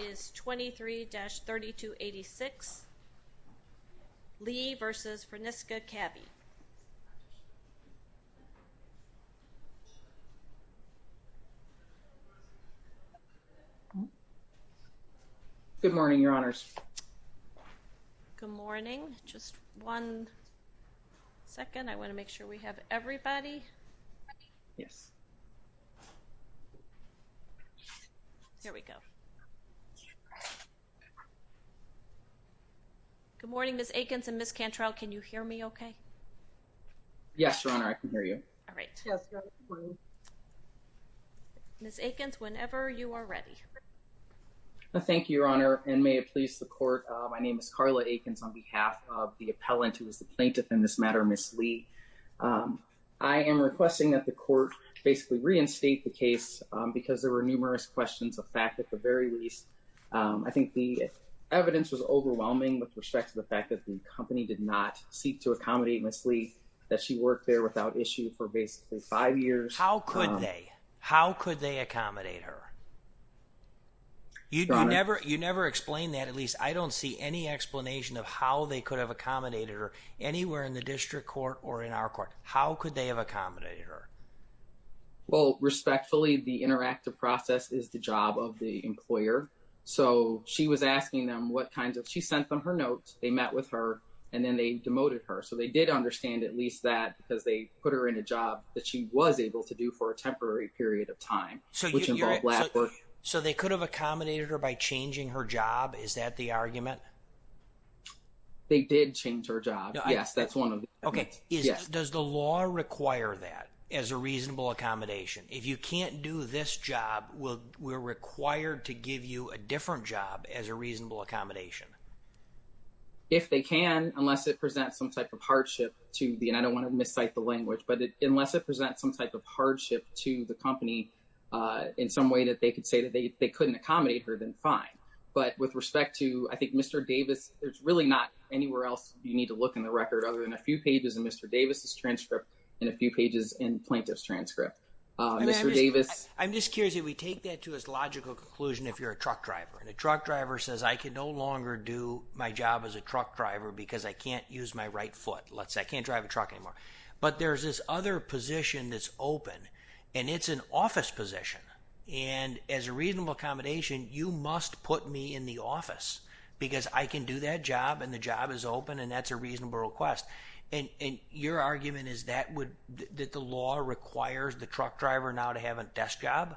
is 23-3286 Li v. Fresenius Kabi. Good morning, Your Honors. Good morning. Just one second. I want to make sure we Good morning, Ms. Akins and Ms. Cantrell. Can you hear me okay? Yes, Your Honor. I can hear you. All right. Ms. Akins, whenever you are ready. Thank you, Your Honor, and may it please the court. My name is Carla Akins on behalf of the appellant who is the plaintiff in this matter, Ms. Li. I am requesting that the court basically reinstate the case because there were numerous questions of fact at the very least. I think the evidence was overwhelming with respect to the fact that the company did not seek to accommodate Ms. Li, that she worked there without issue for basically five years. How could they? How could they accommodate her? You never explained that. At least I don't see any explanation of how they could have accommodated her anywhere in the district court or in our court. How could they have accommodated her? Well, So, she was asking them what kinds of... She sent them her notes. They met with her and then they demoted her. So, they did understand at least that because they put her in a job that she was able to do for a temporary period of time, which involved lab work. So, they could have accommodated her by changing her job? Is that the argument? They did change her job. Yes, that's one of them. Okay. Does the law require that as a reasonable accommodation? If you can't do this job, we're required to give you a different job as a reasonable accommodation? If they can, unless it presents some type of hardship to the... And I don't want to miscite the language, but unless it presents some type of hardship to the company in some way that they could say that they couldn't accommodate her, then fine. But with respect to, I think, Mr. Davis, there's really not anywhere else you need to look in the record other than a few pages in Mr. Davis's take that to his logical conclusion if you're a truck driver. And a truck driver says, I can no longer do my job as a truck driver because I can't use my right foot. Let's say I can't drive a truck anymore. But there's this other position that's open and it's an office position. And as a reasonable accommodation, you must put me in the office because I can do that job and the job is open and that's a reasonable request. And your argument is that the law requires the truck driver now to have a desk job?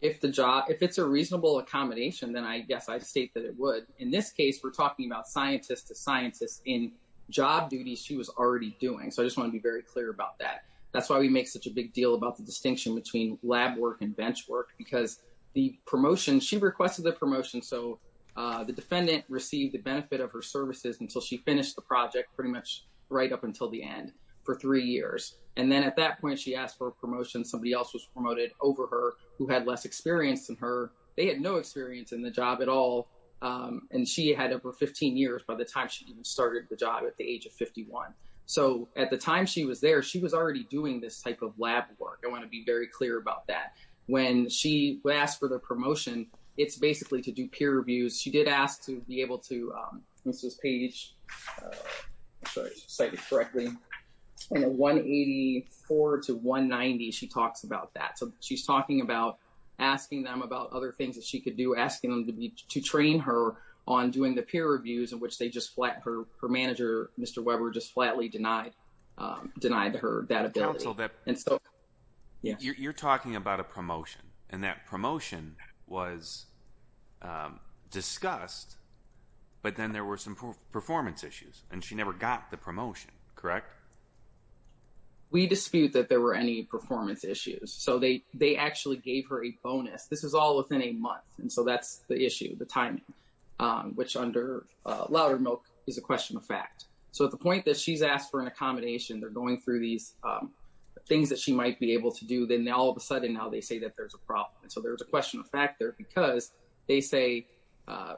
If it's a reasonable accommodation, then I guess I'd state that it would. In this case, we're talking about scientist to scientist in job duties she was already doing. So I just want to be very clear about that. That's why we make such a big deal about the distinction between lab work and bench work because the promotion, she requested the promotion, so the defendant received the benefit of her services until she finished the project pretty much right up until the end for three years. And then at that point, she asked for a promotion. Somebody else was promoted over her who had less experience than her. They had no experience in the job at all. And she had over 15 years by the time she even started the job at the age of 51. So at the time she was there, she was already doing this type of lab work. I want to be very clear about that. When she asked for the promotion, it's basically to do peer reviews. She did ask to be able to, Mrs. Page cited correctly, 184 to 1 90. She talks about that. So she's talking about asking them about other things that she could do, asking them to be to train her on doing the peer reviews in which they just flat her manager. Mr Weber just flatly denied denied her that ability. And so you're talking about a there were some performance issues and she never got the promotion, correct? We dispute that there were any performance issues. So they actually gave her a bonus. This is all within a month. And so that's the issue, the timing, which under louder milk is a question of fact. So at the point that she's asked for an accommodation, they're going through these things that she might be able to do. Then all of a sudden now they say that there's a problem. So there's a question of fact there because they say,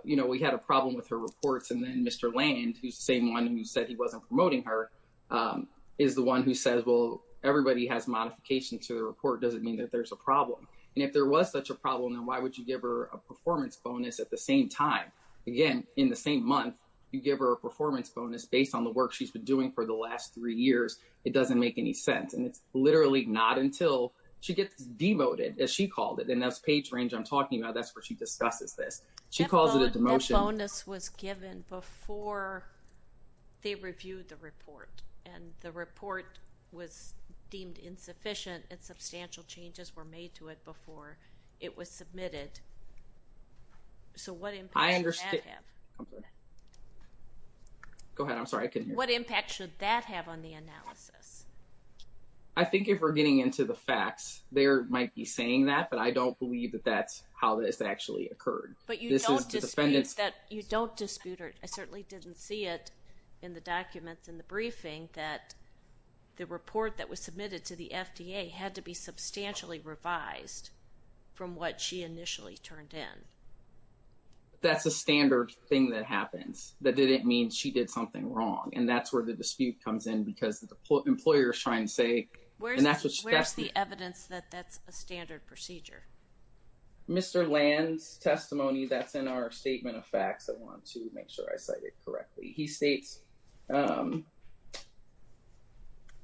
you know, we had a problem with her reports. And then Mr Land, who's the same one who said he wasn't promoting her, um, is the one who says, well, everybody has modification to report. Doesn't mean that there's a problem. And if there was such a problem, then why would you give her a performance bonus at the same time? Again, in the same month, you give her a performance bonus based on the work she's been doing for the last three years. It doesn't make any sense. And it's literally not until she gets demoted as she called it. And that's page range. I'm talking about. That's where she discusses this. She calls it demotion. The bonus was given before they reviewed the report and the report was deemed insufficient and substantial changes were made to it before it was submitted. So what impact should that have? Go ahead, I'm sorry I couldn't hear you. What impact should that have on the analysis? I think if we're getting into the facts, they might be saying that, but I don't believe that that's how this actually occurred. But you don't dispute it. I certainly didn't see it in the documents in the briefing that the report that was submitted to the FDA had to be substantially revised from what she initially turned in. That's a standard thing that happens. That didn't mean she did something wrong. And that's where the dispute comes in because the employers try and say, and that's in our statement of facts. I want to make sure I cite it correctly. He states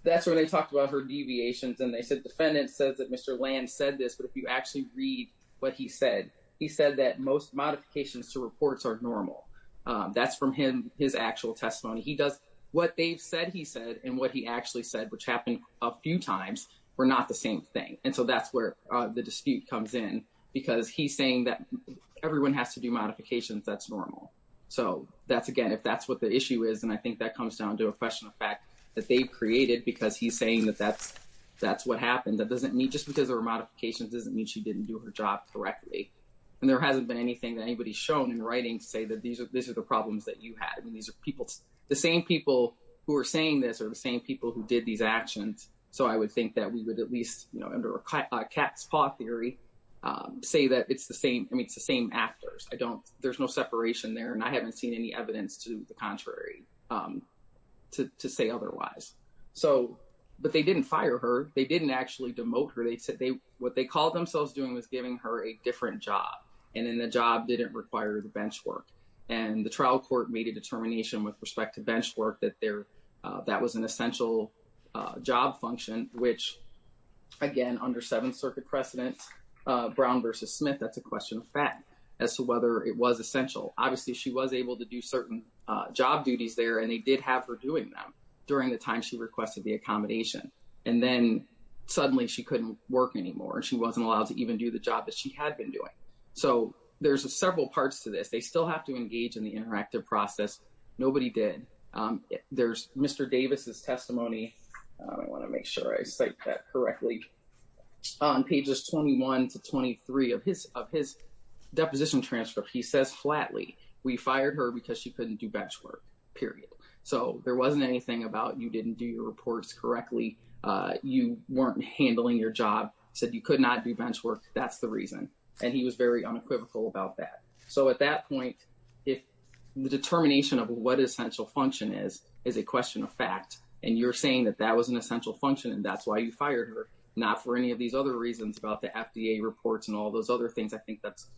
that's where they talked about her deviations and they said defendant says that Mr. Land said this, but if you actually read what he said, he said that most modifications to reports are normal. That's from him, his actual testimony. He does what they've said he said and what he actually said, which happened a few times, were not the same thing. And so that's where the dispute comes in because he's saying that everyone has to do modifications. That's normal. So that's again, if that's what the issue is. And I think that comes down to a question of fact that they created because he's saying that that's what happened. That doesn't mean just because there were modifications doesn't mean she didn't do her job correctly. And there hasn't been anything that anybody shown in writing to say that these are the problems that you had. I mean, these are people, the same people who are saying this are the same people who did these actions. So I would think that we would at least, you know, under a cat's eye, say that it's the same. I mean, it's the same actors. I don't, there's no separation there. And I haven't seen any evidence to the contrary to say otherwise. So, but they didn't fire her. They didn't actually demote her. They said they, what they called themselves doing was giving her a different job. And then the job didn't require the bench work. And the trial court made a determination with respect to bench work that there, that was an essential job function, which again, under Seventh Circuit precedent, Brown versus Smith, that's a question of fact as to whether it was essential. Obviously she was able to do certain job duties there and they did have her doing them during the time she requested the accommodation. And then suddenly she couldn't work anymore. She wasn't allowed to even do the job that she had been doing. So there's several parts to this. They still have to engage in the interactive process. Nobody did. There's Mr. Davis's testimony. I want to make sure I cite that correctly. On pages 21 to 23 of his, of his deposition transcript, he says flatly, we fired her because she couldn't do bench work, period. So there wasn't anything about you didn't do your reports correctly. You weren't handling your job, said you could not do bench work. That's the reason. And he was very unequivocal about that. So at that point, if the determination of what essential function is, is a question of fact, and you're saying that that was an essential function and that's why you fired her, not for any of these other reasons about the FDA reports and all those other things. I think that's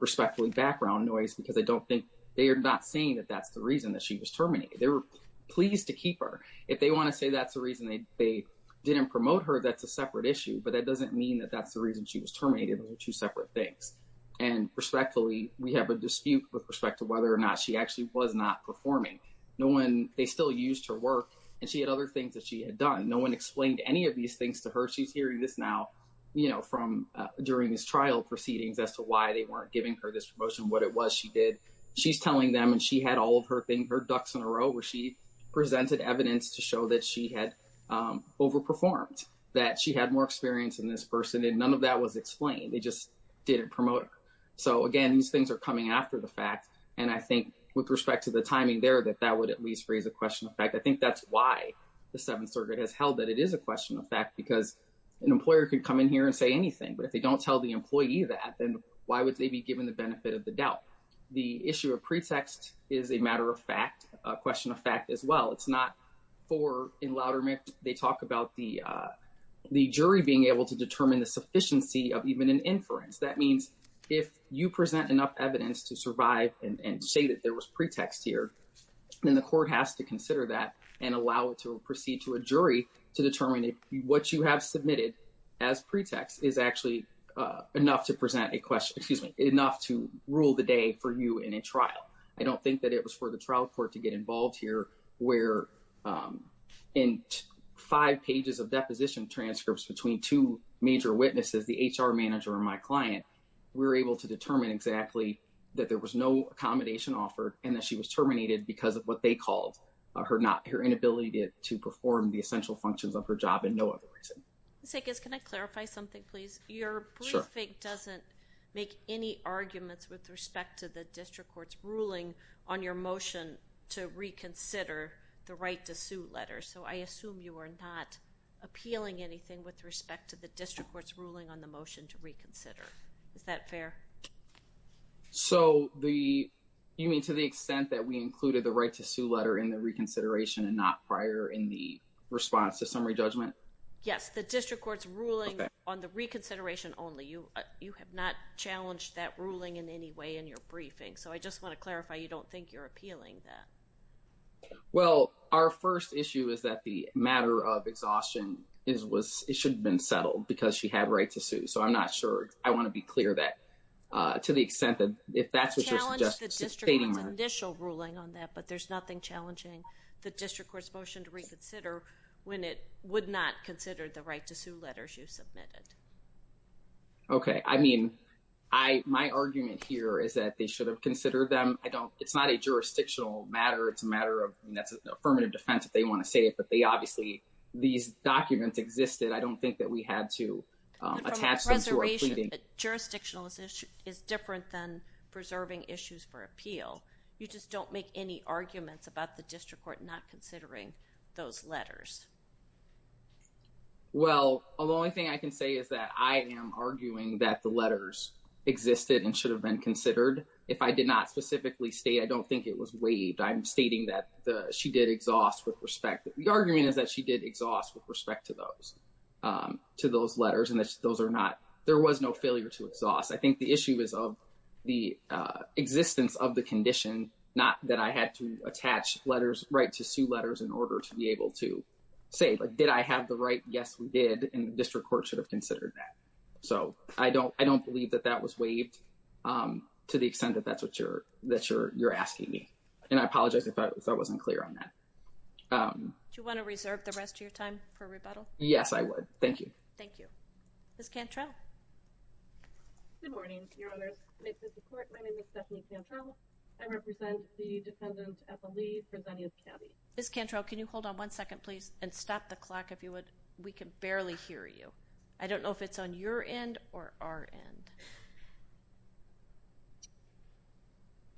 respectfully background noise because I don't think they are not saying that that's the reason that she was terminated. They were pleased to keep her. If they want to say that's the reason they didn't promote her, that's a separate issue. But that doesn't mean that that's the reason she was terminated. That's a separate thing. And respectfully, we have a dispute with respect to whether or not she actually was not performing. No one, they still used her work. And she had other things that she had done. No one explained any of these things to her. She's hearing this now, you know, from during this trial proceedings as to why they weren't giving her this promotion, what it was she did. She's telling them and she had all of her things, her ducks in a row where she presented evidence to show that she had overperformed, that she had more experience than this person. And none of that was explained. They just didn't promote her. So again, these things are coming after the fact. And I think with respect to the timing there, that that would at least raise a question of fact. I think that's why the Seventh Circuit has held that it is a question of fact, because an employer could come in here and say anything. But if they don't tell the employee that, then why would they be given the benefit of the doubt? The issue of pretext is a matter of fact, a question of fact as well. It's not for, in louder, they talk about the the jury being able to determine the sufficiency of even an inference. That means if you present enough evidence to survive and say that there was pretext here, then the court has to consider that and allow it to proceed to a jury to determine what you have submitted as pretext is actually enough to present a question, excuse me, enough to rule the day for you in a trial. I don't think that it was for the trial court to get involved here, where in five pages of deposition transcripts between two major witnesses, the HR manager and my client, we were able to determine exactly that there was no accommodation offered and that she was terminated because of what they called her inability to perform the essential functions of her job and no other reason. Ms. Higgins, can I clarify something please? Your briefing doesn't make any reference to the district court's ruling on your motion to reconsider the right to sue letter. So I assume you are not appealing anything with respect to the district court's ruling on the motion to reconsider. Is that fair? So the, you mean to the extent that we included the right to sue letter in the reconsideration and not prior in the response to summary judgment? Yes, the district court's ruling on the reconsideration only. You have not challenged that ruling in any way in your briefing. So I just want to clarify, you don't think you're appealing that? Well, our first issue is that the matter of exhaustion is, was, it should have been settled because she had a right to sue. So I'm not sure. I want to be clear that to the extent that if that's what you're suggesting. You challenged the district court's initial ruling on that, but there's nothing challenging the district court's motion to reconsider when it would not consider the right to sue letters you submitted. Okay, I mean, I, my argument here is that they should have considered them. I don't, it's not a jurisdictional matter. It's a matter of, that's an affirmative defense if they want to say it, but they obviously, these documents existed. I don't think that we had to attach them to our pleading. Jurisdictional is different than preserving issues for appeal. You just don't make any arguments about the district court not considering those Well, the only thing I can say is that I am arguing that the letters existed and should have been considered. If I did not specifically state, I don't think it was waived. I'm stating that the, she did exhaust with respect. The argument is that she did exhaust with respect to those, to those letters and that those are not, there was no failure to exhaust. I think the issue is of the existence of the condition, not that I had to attach letters, right, to sue letters in order to be able to say, like, did I have the right? Yes, we did. And the district court should have considered that. So I don't, I don't believe that that was waived to the extent that that's what you're, that you're, you're asking me. And I apologize if I, if I wasn't clear on that. Do you want to reserve the rest of your time for rebuttal? Yes, I would. Thank you. Thank you. Ms. Cantrell. Good morning, your honors. My name is Stephanie Cantrell. I represent the and stop the clock if you would. We can barely hear you. I don't know if it's on your end or our end.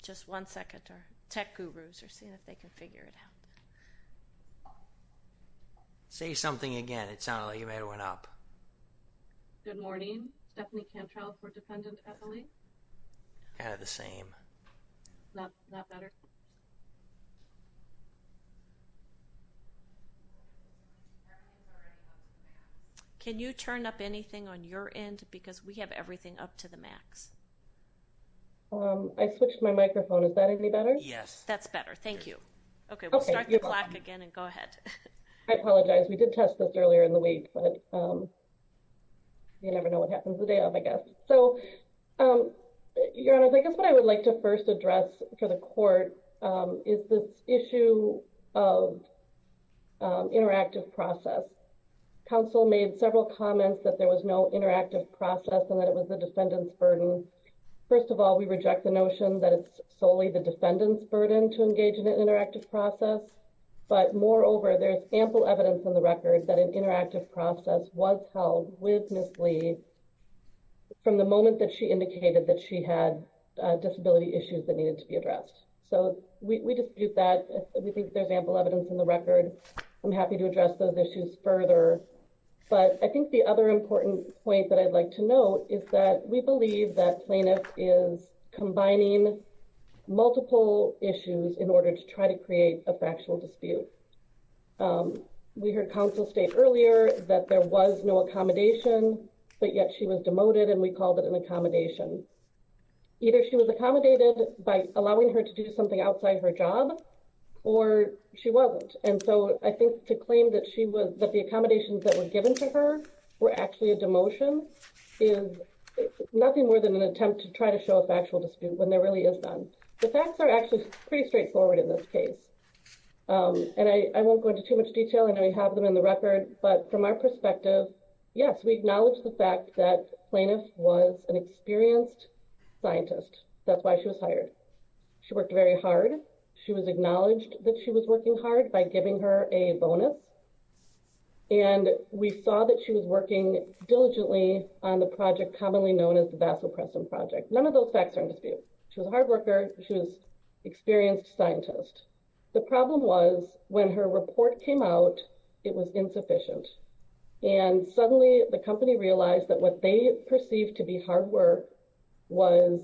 Just one second. Our tech gurus are seeing if they can figure it out. Say something again. It sounded like you made one up. Good morning. Stephanie Cantrell for defendant Eppley. Kind of the same. Not better. Can you turn up anything on your end? Because we have everything up to the max. I switched my microphone. Is that any better? Yes, that's better. Thank you. Okay, we'll start the clock again and go ahead. I apologize. We did test this earlier in the week, but you never know what happens the day of, I guess. So, your honor, I guess what I would like to first address for the court is this issue of interactive process. Council made several comments that there was no interactive process and that it was the defendant's burden. First of all, we reject the notion that it's solely the defendant's burden to engage in an interactive process. But moreover, there's ample evidence in the record that an interactive process was held with Ms. Lee from the moment that she indicated that she had disability issues that needed to be addressed. So, we dispute that. We think there's ample evidence in the record. I'm happy to address those issues further. But I think the other important point that I'd like to note is that we believe that plaintiff is combining multiple issues in order to try to create a factual dispute. We heard counsel state earlier that there was no accommodation, but yet she was demoted and we called it an accommodation. Either she was accommodated by allowing her to do something outside her job or she wasn't. And so, I think to claim that the accommodations that were given to her were actually a demotion is nothing more than an attempt to try to show a factual dispute when there really is none. The facts are actually pretty straightforward in this case. And I won't go into too much detail. I know we have them in the record. But from our perspective, yes, we acknowledge the fact that plaintiff was an experienced scientist. That's why she was hired. She worked very hard. She was acknowledged that she was working hard by giving her a bonus. And we saw that she was working diligently on the project commonly known as the Vassal Preston Project. None of those facts are true. The problem was when her report came out, it was insufficient. And suddenly, the company realized that what they perceived to be hard work was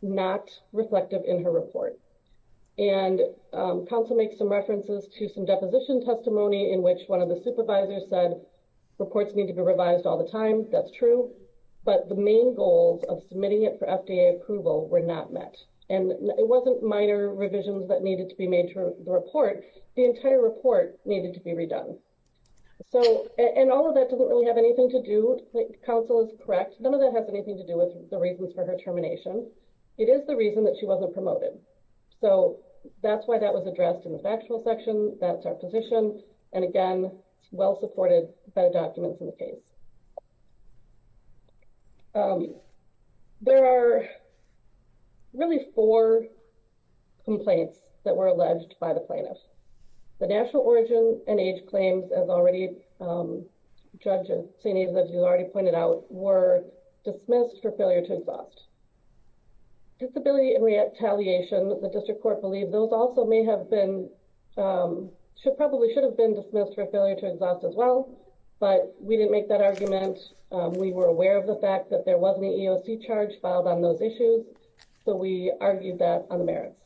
not reflective in her report. And counsel makes some references to some deposition testimony in which one of the supervisors said, reports need to be revised all the time. That's true. But the main goals of submitting it for FDA approval were not met. And it wasn't minor revisions that needed to be made to the report. The entire report needed to be redone. And all of that doesn't really have anything to do, counsel is correct, none of that has anything to do with the reasons for her termination. It is the reason that she wasn't promoted. So that's why that was addressed in the factual section. That's our position. And again, well supported by the documents in the case. There are really four complaints that were alleged by the plaintiff. The national origin and age claims as already, judges, as you already pointed out, were dismissed for failure to exhaust. Disability and retaliation, the district court believed those also may have been, should probably should have been dismissed for failure to exhaust as well. But we didn't make that argument. We were aware of the fact that there was an EOC charge filed on those issues. So we argued that on the merits.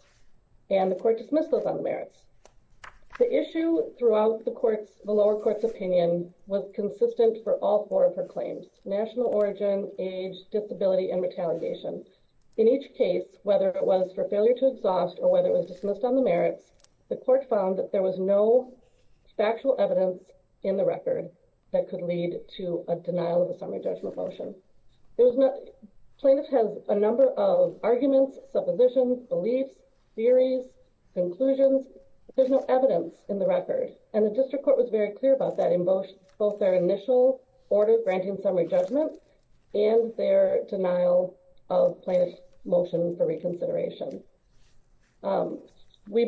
And the court dismissed those on the merits. The issue throughout the courts, the lower courts opinion was consistent for all four of her claims, national origin, age, disability and retaliation. In each case, whether it was for failure to exhaust or whether it was for failure to exhaust, the court found that there was no factual evidence in the record that could lead to a denial of a summary judgment motion. Plaintiff has a number of arguments, suppositions, beliefs, theories, conclusions. There's no evidence in the record. And the district court was very clear about that in both their initial order granting summary judgment and their denial of summary judgment motion. The court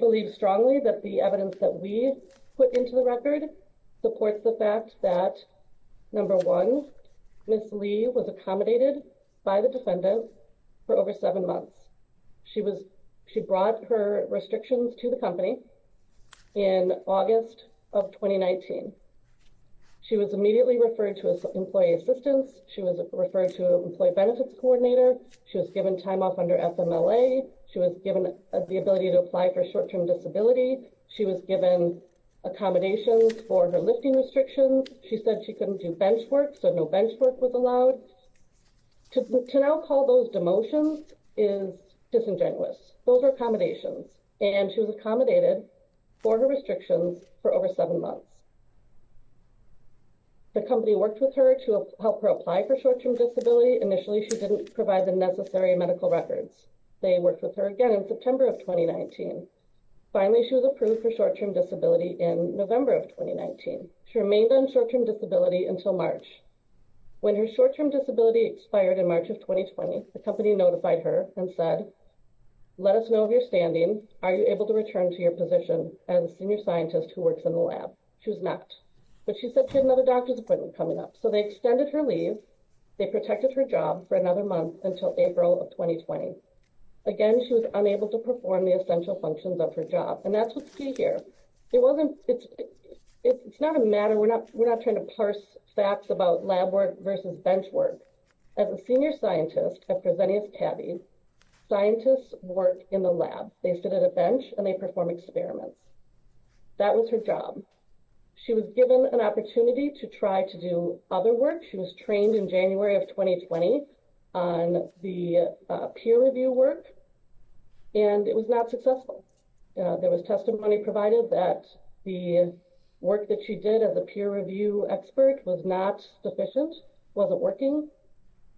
found strongly that the evidence that we put into the record supports the fact that, number one, Ms. Lee was accommodated by the defendant for over seven months. She was, she brought her restrictions to the company in August of 2019. She was immediately referred to as employee assistance. She was referred to employee benefits coordinator. She was given time off under FMLA. She was given the ability to apply for short-term disability. She was given accommodations for her lifting restrictions. She said she couldn't do bench work, so no bench work was allowed. To now call those demotions is disingenuous. Those are accommodations. And she was accommodated for her restrictions for over seven months. The company worked with her to help her apply for short-term disability. Initially, she didn't provide the necessary medical records. They worked with her again in September of 2019. Finally, she was approved for short-term disability in November of 2019. She remained on short-term disability until March. When her short-term disability expired in March of 2020, the company notified her and said, let us know of your standing. Are you able to return to your position as a senior scientist who works in the lab? She was not. But she said she had another appointment coming up. So they extended her leave. They protected her job for another month until April of 2020. Again, she was unable to perform the essential functions of her job. And that's what's key here. It's not a matter. We're not trying to parse facts about lab work versus bench work. As a senior scientist, scientists work in the lab. They sit at a bench and they perform experiments. That was her job. She was given an opportunity to try to do other work. She was trained in January of 2020 on the peer review work. And it was not successful. There was testimony provided that the work that she did as a peer review expert was not sufficient, wasn't working.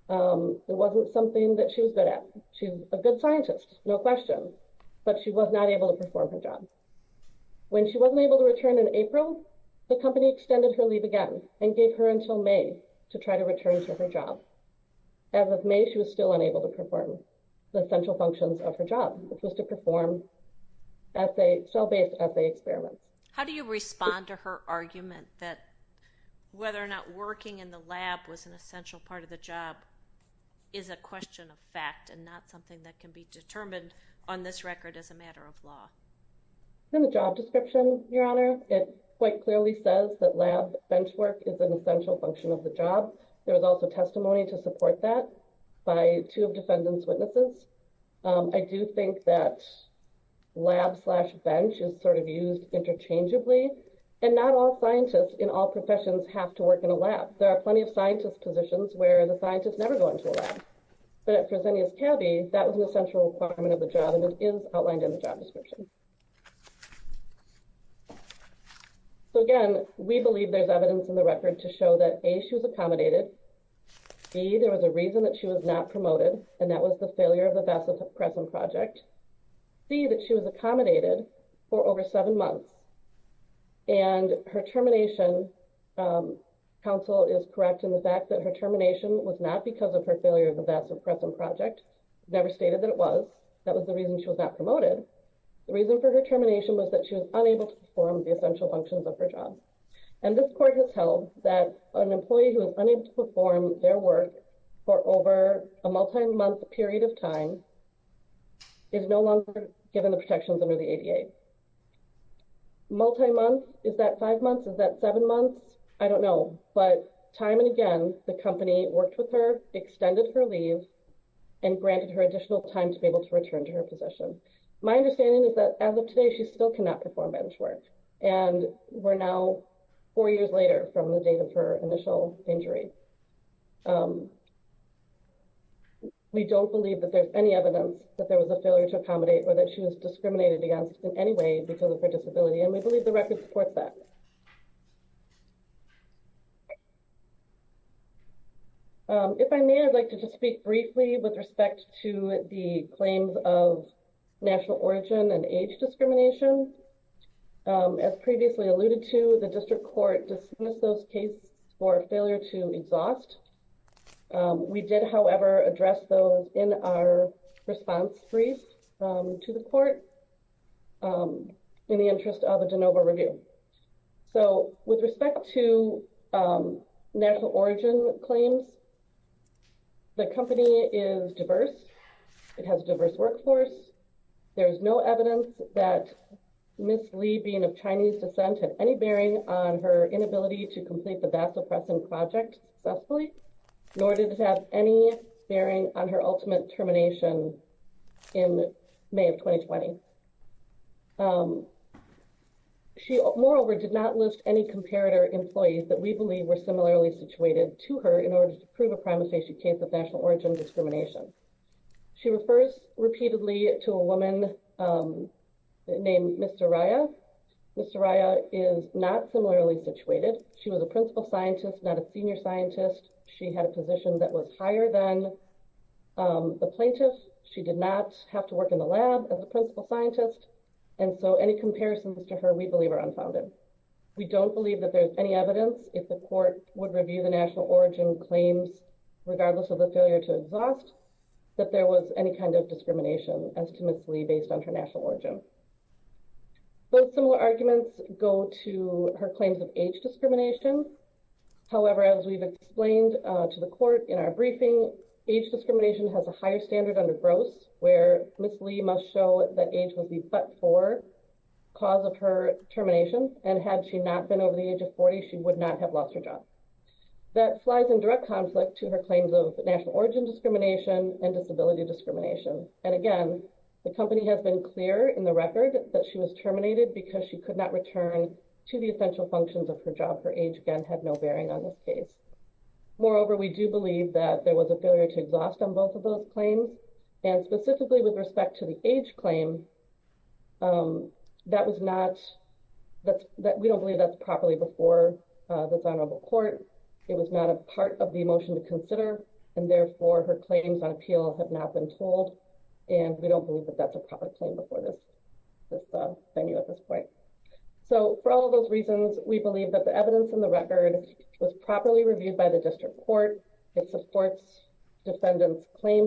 It wasn't something that she was good at. She's a good scientist, no question. But she was not able to perform her job. When she wasn't able to return in April, the company extended her leave again and gave her until May to try to return to her job. As of May, she was still unable to perform the essential functions of her job, which was to perform cell-based assay experiments. How do you respond to her argument that whether or not working in the lab was an essential part of the job is a question of fact and not something that can be determined on this In the job description, Your Honor, it quite clearly says that lab bench work is an essential function of the job. There was also testimony to support that by two of defendants' witnesses. I do think that lab slash bench is sort of used interchangeably. And not all scientists in all professions have to work in a lab. There are plenty of scientist positions where the scientist is never going to a lab. But at Fresenius County, that was an essential requirement of the job and is outlined in the job description. So again, we believe there's evidence in the record to show that A, she was accommodated. B, there was a reason that she was not promoted, and that was the failure of the vasopressin project. C, that she was accommodated for over seven months. And her termination, counsel is correct in the fact that her termination was not because of her failure of her job. And this court has held that an employee who is unable to perform their work for over a multi-month period of time is no longer given the protections under the ADA. Multi-month? Is that five months? Is that seven months? I don't know. But time and again, the company worked with her, extended her leave, and granted her additional time to be able to position. My understanding is that as of today, she still cannot perform bench work. And we're now four years later from the date of her initial injury. We don't believe that there's any evidence that there was a failure to accommodate or that she was discriminated against in any way because of her disability. And we believe the record supports that. If I may, I'd like to speak briefly with respect to the claims of national origin and age discrimination. As previously alluded to, the district court dismissed those cases for failure to exhaust. We did, however, address those in our response brief to the court in the interest of a de novo review. So with respect to national origin claims, the company is diverse. It has a diverse workforce. There's no evidence that Ms. Lee, being of Chinese descent, had any bearing on her inability to complete the vasopressin project successfully, nor did it have any bearing on her moreover, did not list any comparator employees that we believe were similarly situated to her in order to prove a prima facie case of national origin discrimination. She refers repeatedly to a woman named Mr. Raya. Mr. Raya is not similarly situated. She was a principal scientist, not a senior scientist. She had a position that was higher than the plaintiff. She did not have to lab as a principal scientist. So any comparisons to her we believe are unfounded. We don't believe that there's any evidence if the court would review the national origin claims, regardless of the failure to exhaust, that there was any kind of discrimination as to Ms. Lee based on her national origin. Both similar arguments go to her claims of age discrimination. However, as we've explained to the court in our briefing, age discrimination has a higher standard under Ms. Lee must show that age was the but for cause of her termination. And had she not been over the age of 40, she would not have lost her job. That flies in direct conflict to her claims of national origin discrimination and disability discrimination. And again, the company has been clear in the record that she was terminated because she could not return to the essential functions of her job. Her age again had no bearing on this case. Moreover, we do believe that there was a failure to exhaust on both of those claims. And specifically with respect to the age claim, that was not that we don't believe that's properly before the honorable court. It was not a part of the motion to consider. And therefore her claims on appeal have not been told. And we don't believe that that's a proper claim before this venue at this point. So for all those reasons, we believe that the evidence in the claims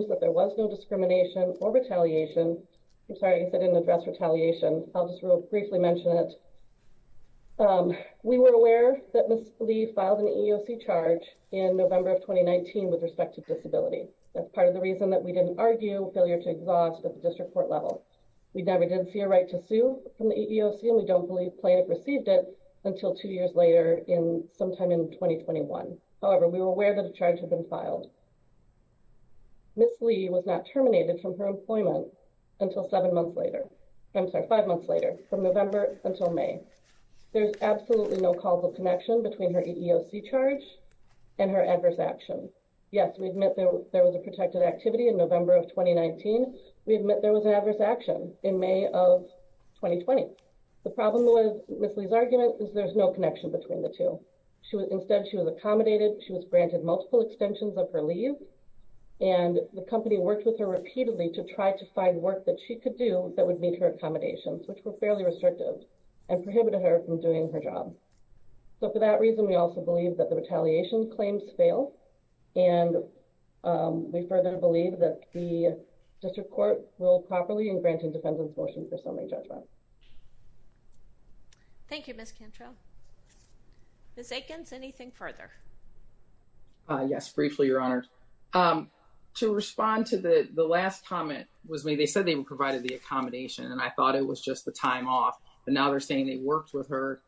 that there was no discrimination or retaliation. I'm sorry, I didn't address retaliation. I'll just real briefly mention it. We were aware that Ms. Lee filed an EEOC charge in November of 2019 with respect to disability. That's part of the reason that we didn't argue failure to exhaust at the district court level. We never did see a right to sue from the EEOC and we don't believe plaintiff received it until two years later in sometime in 2021. However, we were aware that a charge had been filed. Ms. Lee was not terminated from her employment until five months later from November until May. There's absolutely no causal connection between her EEOC charge and her adverse action. Yes, we admit there was a protected activity in November of 2019. We admit there was an adverse action in May of 2020. The problem with Ms. Lee's argument is there's no connection between the two. Instead, she was accommodated. She was granted multiple extensions of her leave and the company worked with her repeatedly to try to find work that she could do that would meet her accommodations, which were fairly restrictive and prohibited her from doing her job. So for that reason, we also believe that the retaliation claims fail and we further believe that the district court ruled properly and granted the defendant's motion for summary judgment. Thank you, Ms. Cantrell. Ms. Aikens, anything further? Yes, briefly, Your Honor. To respond to the last comment was when they said they provided the accommodation and I thought it was just the time off, but now they're saying they worked with her.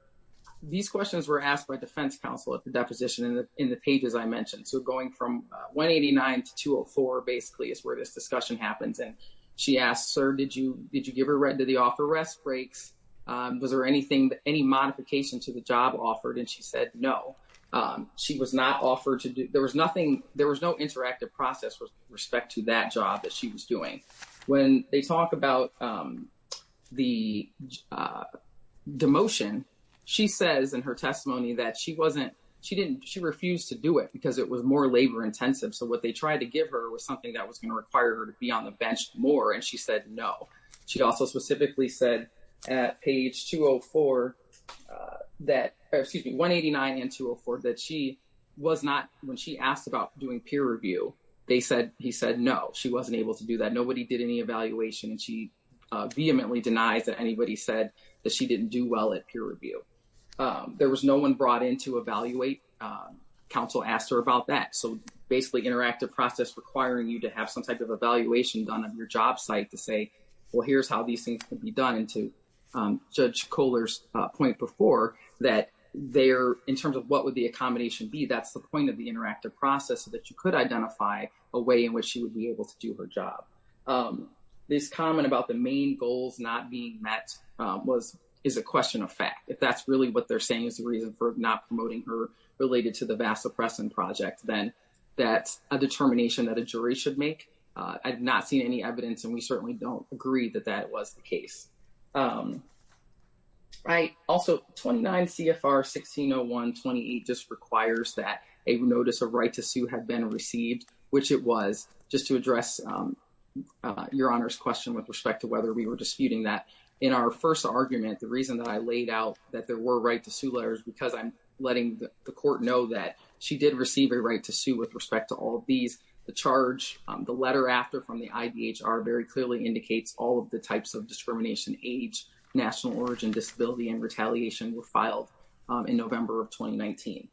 These questions were asked by defense counsel at the deposition in the pages I mentioned. So going from 189 to 204 basically is where this discussion happens and she asked, did you give her the off-arrest breaks? Was there any modification to the job offered? And she said, no. There was no interactive process with respect to that job that she was doing. When they talk about the demotion, she says in her testimony that she refused to do it because it was more labor-intensive. So what they tried to give her was something that was going to require her to be on the bench more and she said, no. She also specifically said at page 204, that, excuse me, 189 and 204, that she was not, when she asked about doing peer review, they said, he said, no, she wasn't able to do that. Nobody did any evaluation and she vehemently denies that anybody said that she didn't do well at peer review. There was no one brought in to evaluate. Counsel asked her about that. So basically, interactive process requiring you to have some type of evaluation done of your job site to say, well, here's how these things can be done. And to Judge Kohler's point before, that they're, in terms of what would the accommodation be, that's the point of the interactive process so that you could identify a way in which she would be able to do her job. This comment about the main goals not being met was, is a question of fact. If that's really what they're saying is the reason for not promoting her related to the vast suppressant project, then that's a determination that a jury should make. I've not seen any evidence and we certainly don't agree that that was the case. Right. Also, 29 CFR 1601-28 just requires that a notice of right to sue had been received, which it was. Just to address Your Honor's question with respect to whether we were disputing that, in our first argument, the reason that I laid out that there to sue with respect to all of these, the charge, the letter after from the IDHR very clearly indicates all of the types of discrimination, age, national origin, disability, and retaliation were filed in November of 2019.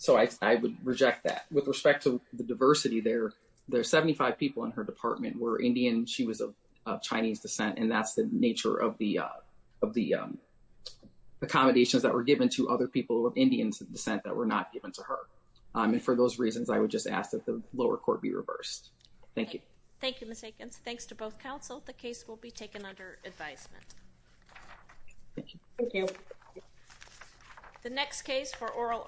So I would reject that. With respect to the diversity there, there are 75 people in her department were Indian. She was of Chinese descent and that's the nature of the accommodations that were given to other people of Indian descent that were not given to her. And for those reasons, I would just ask that the lower court be reversed. Thank you. Thank you, Mr. Eakins. Thanks to both counsel. The case will be taken under advisement. Thank you. The next case for oral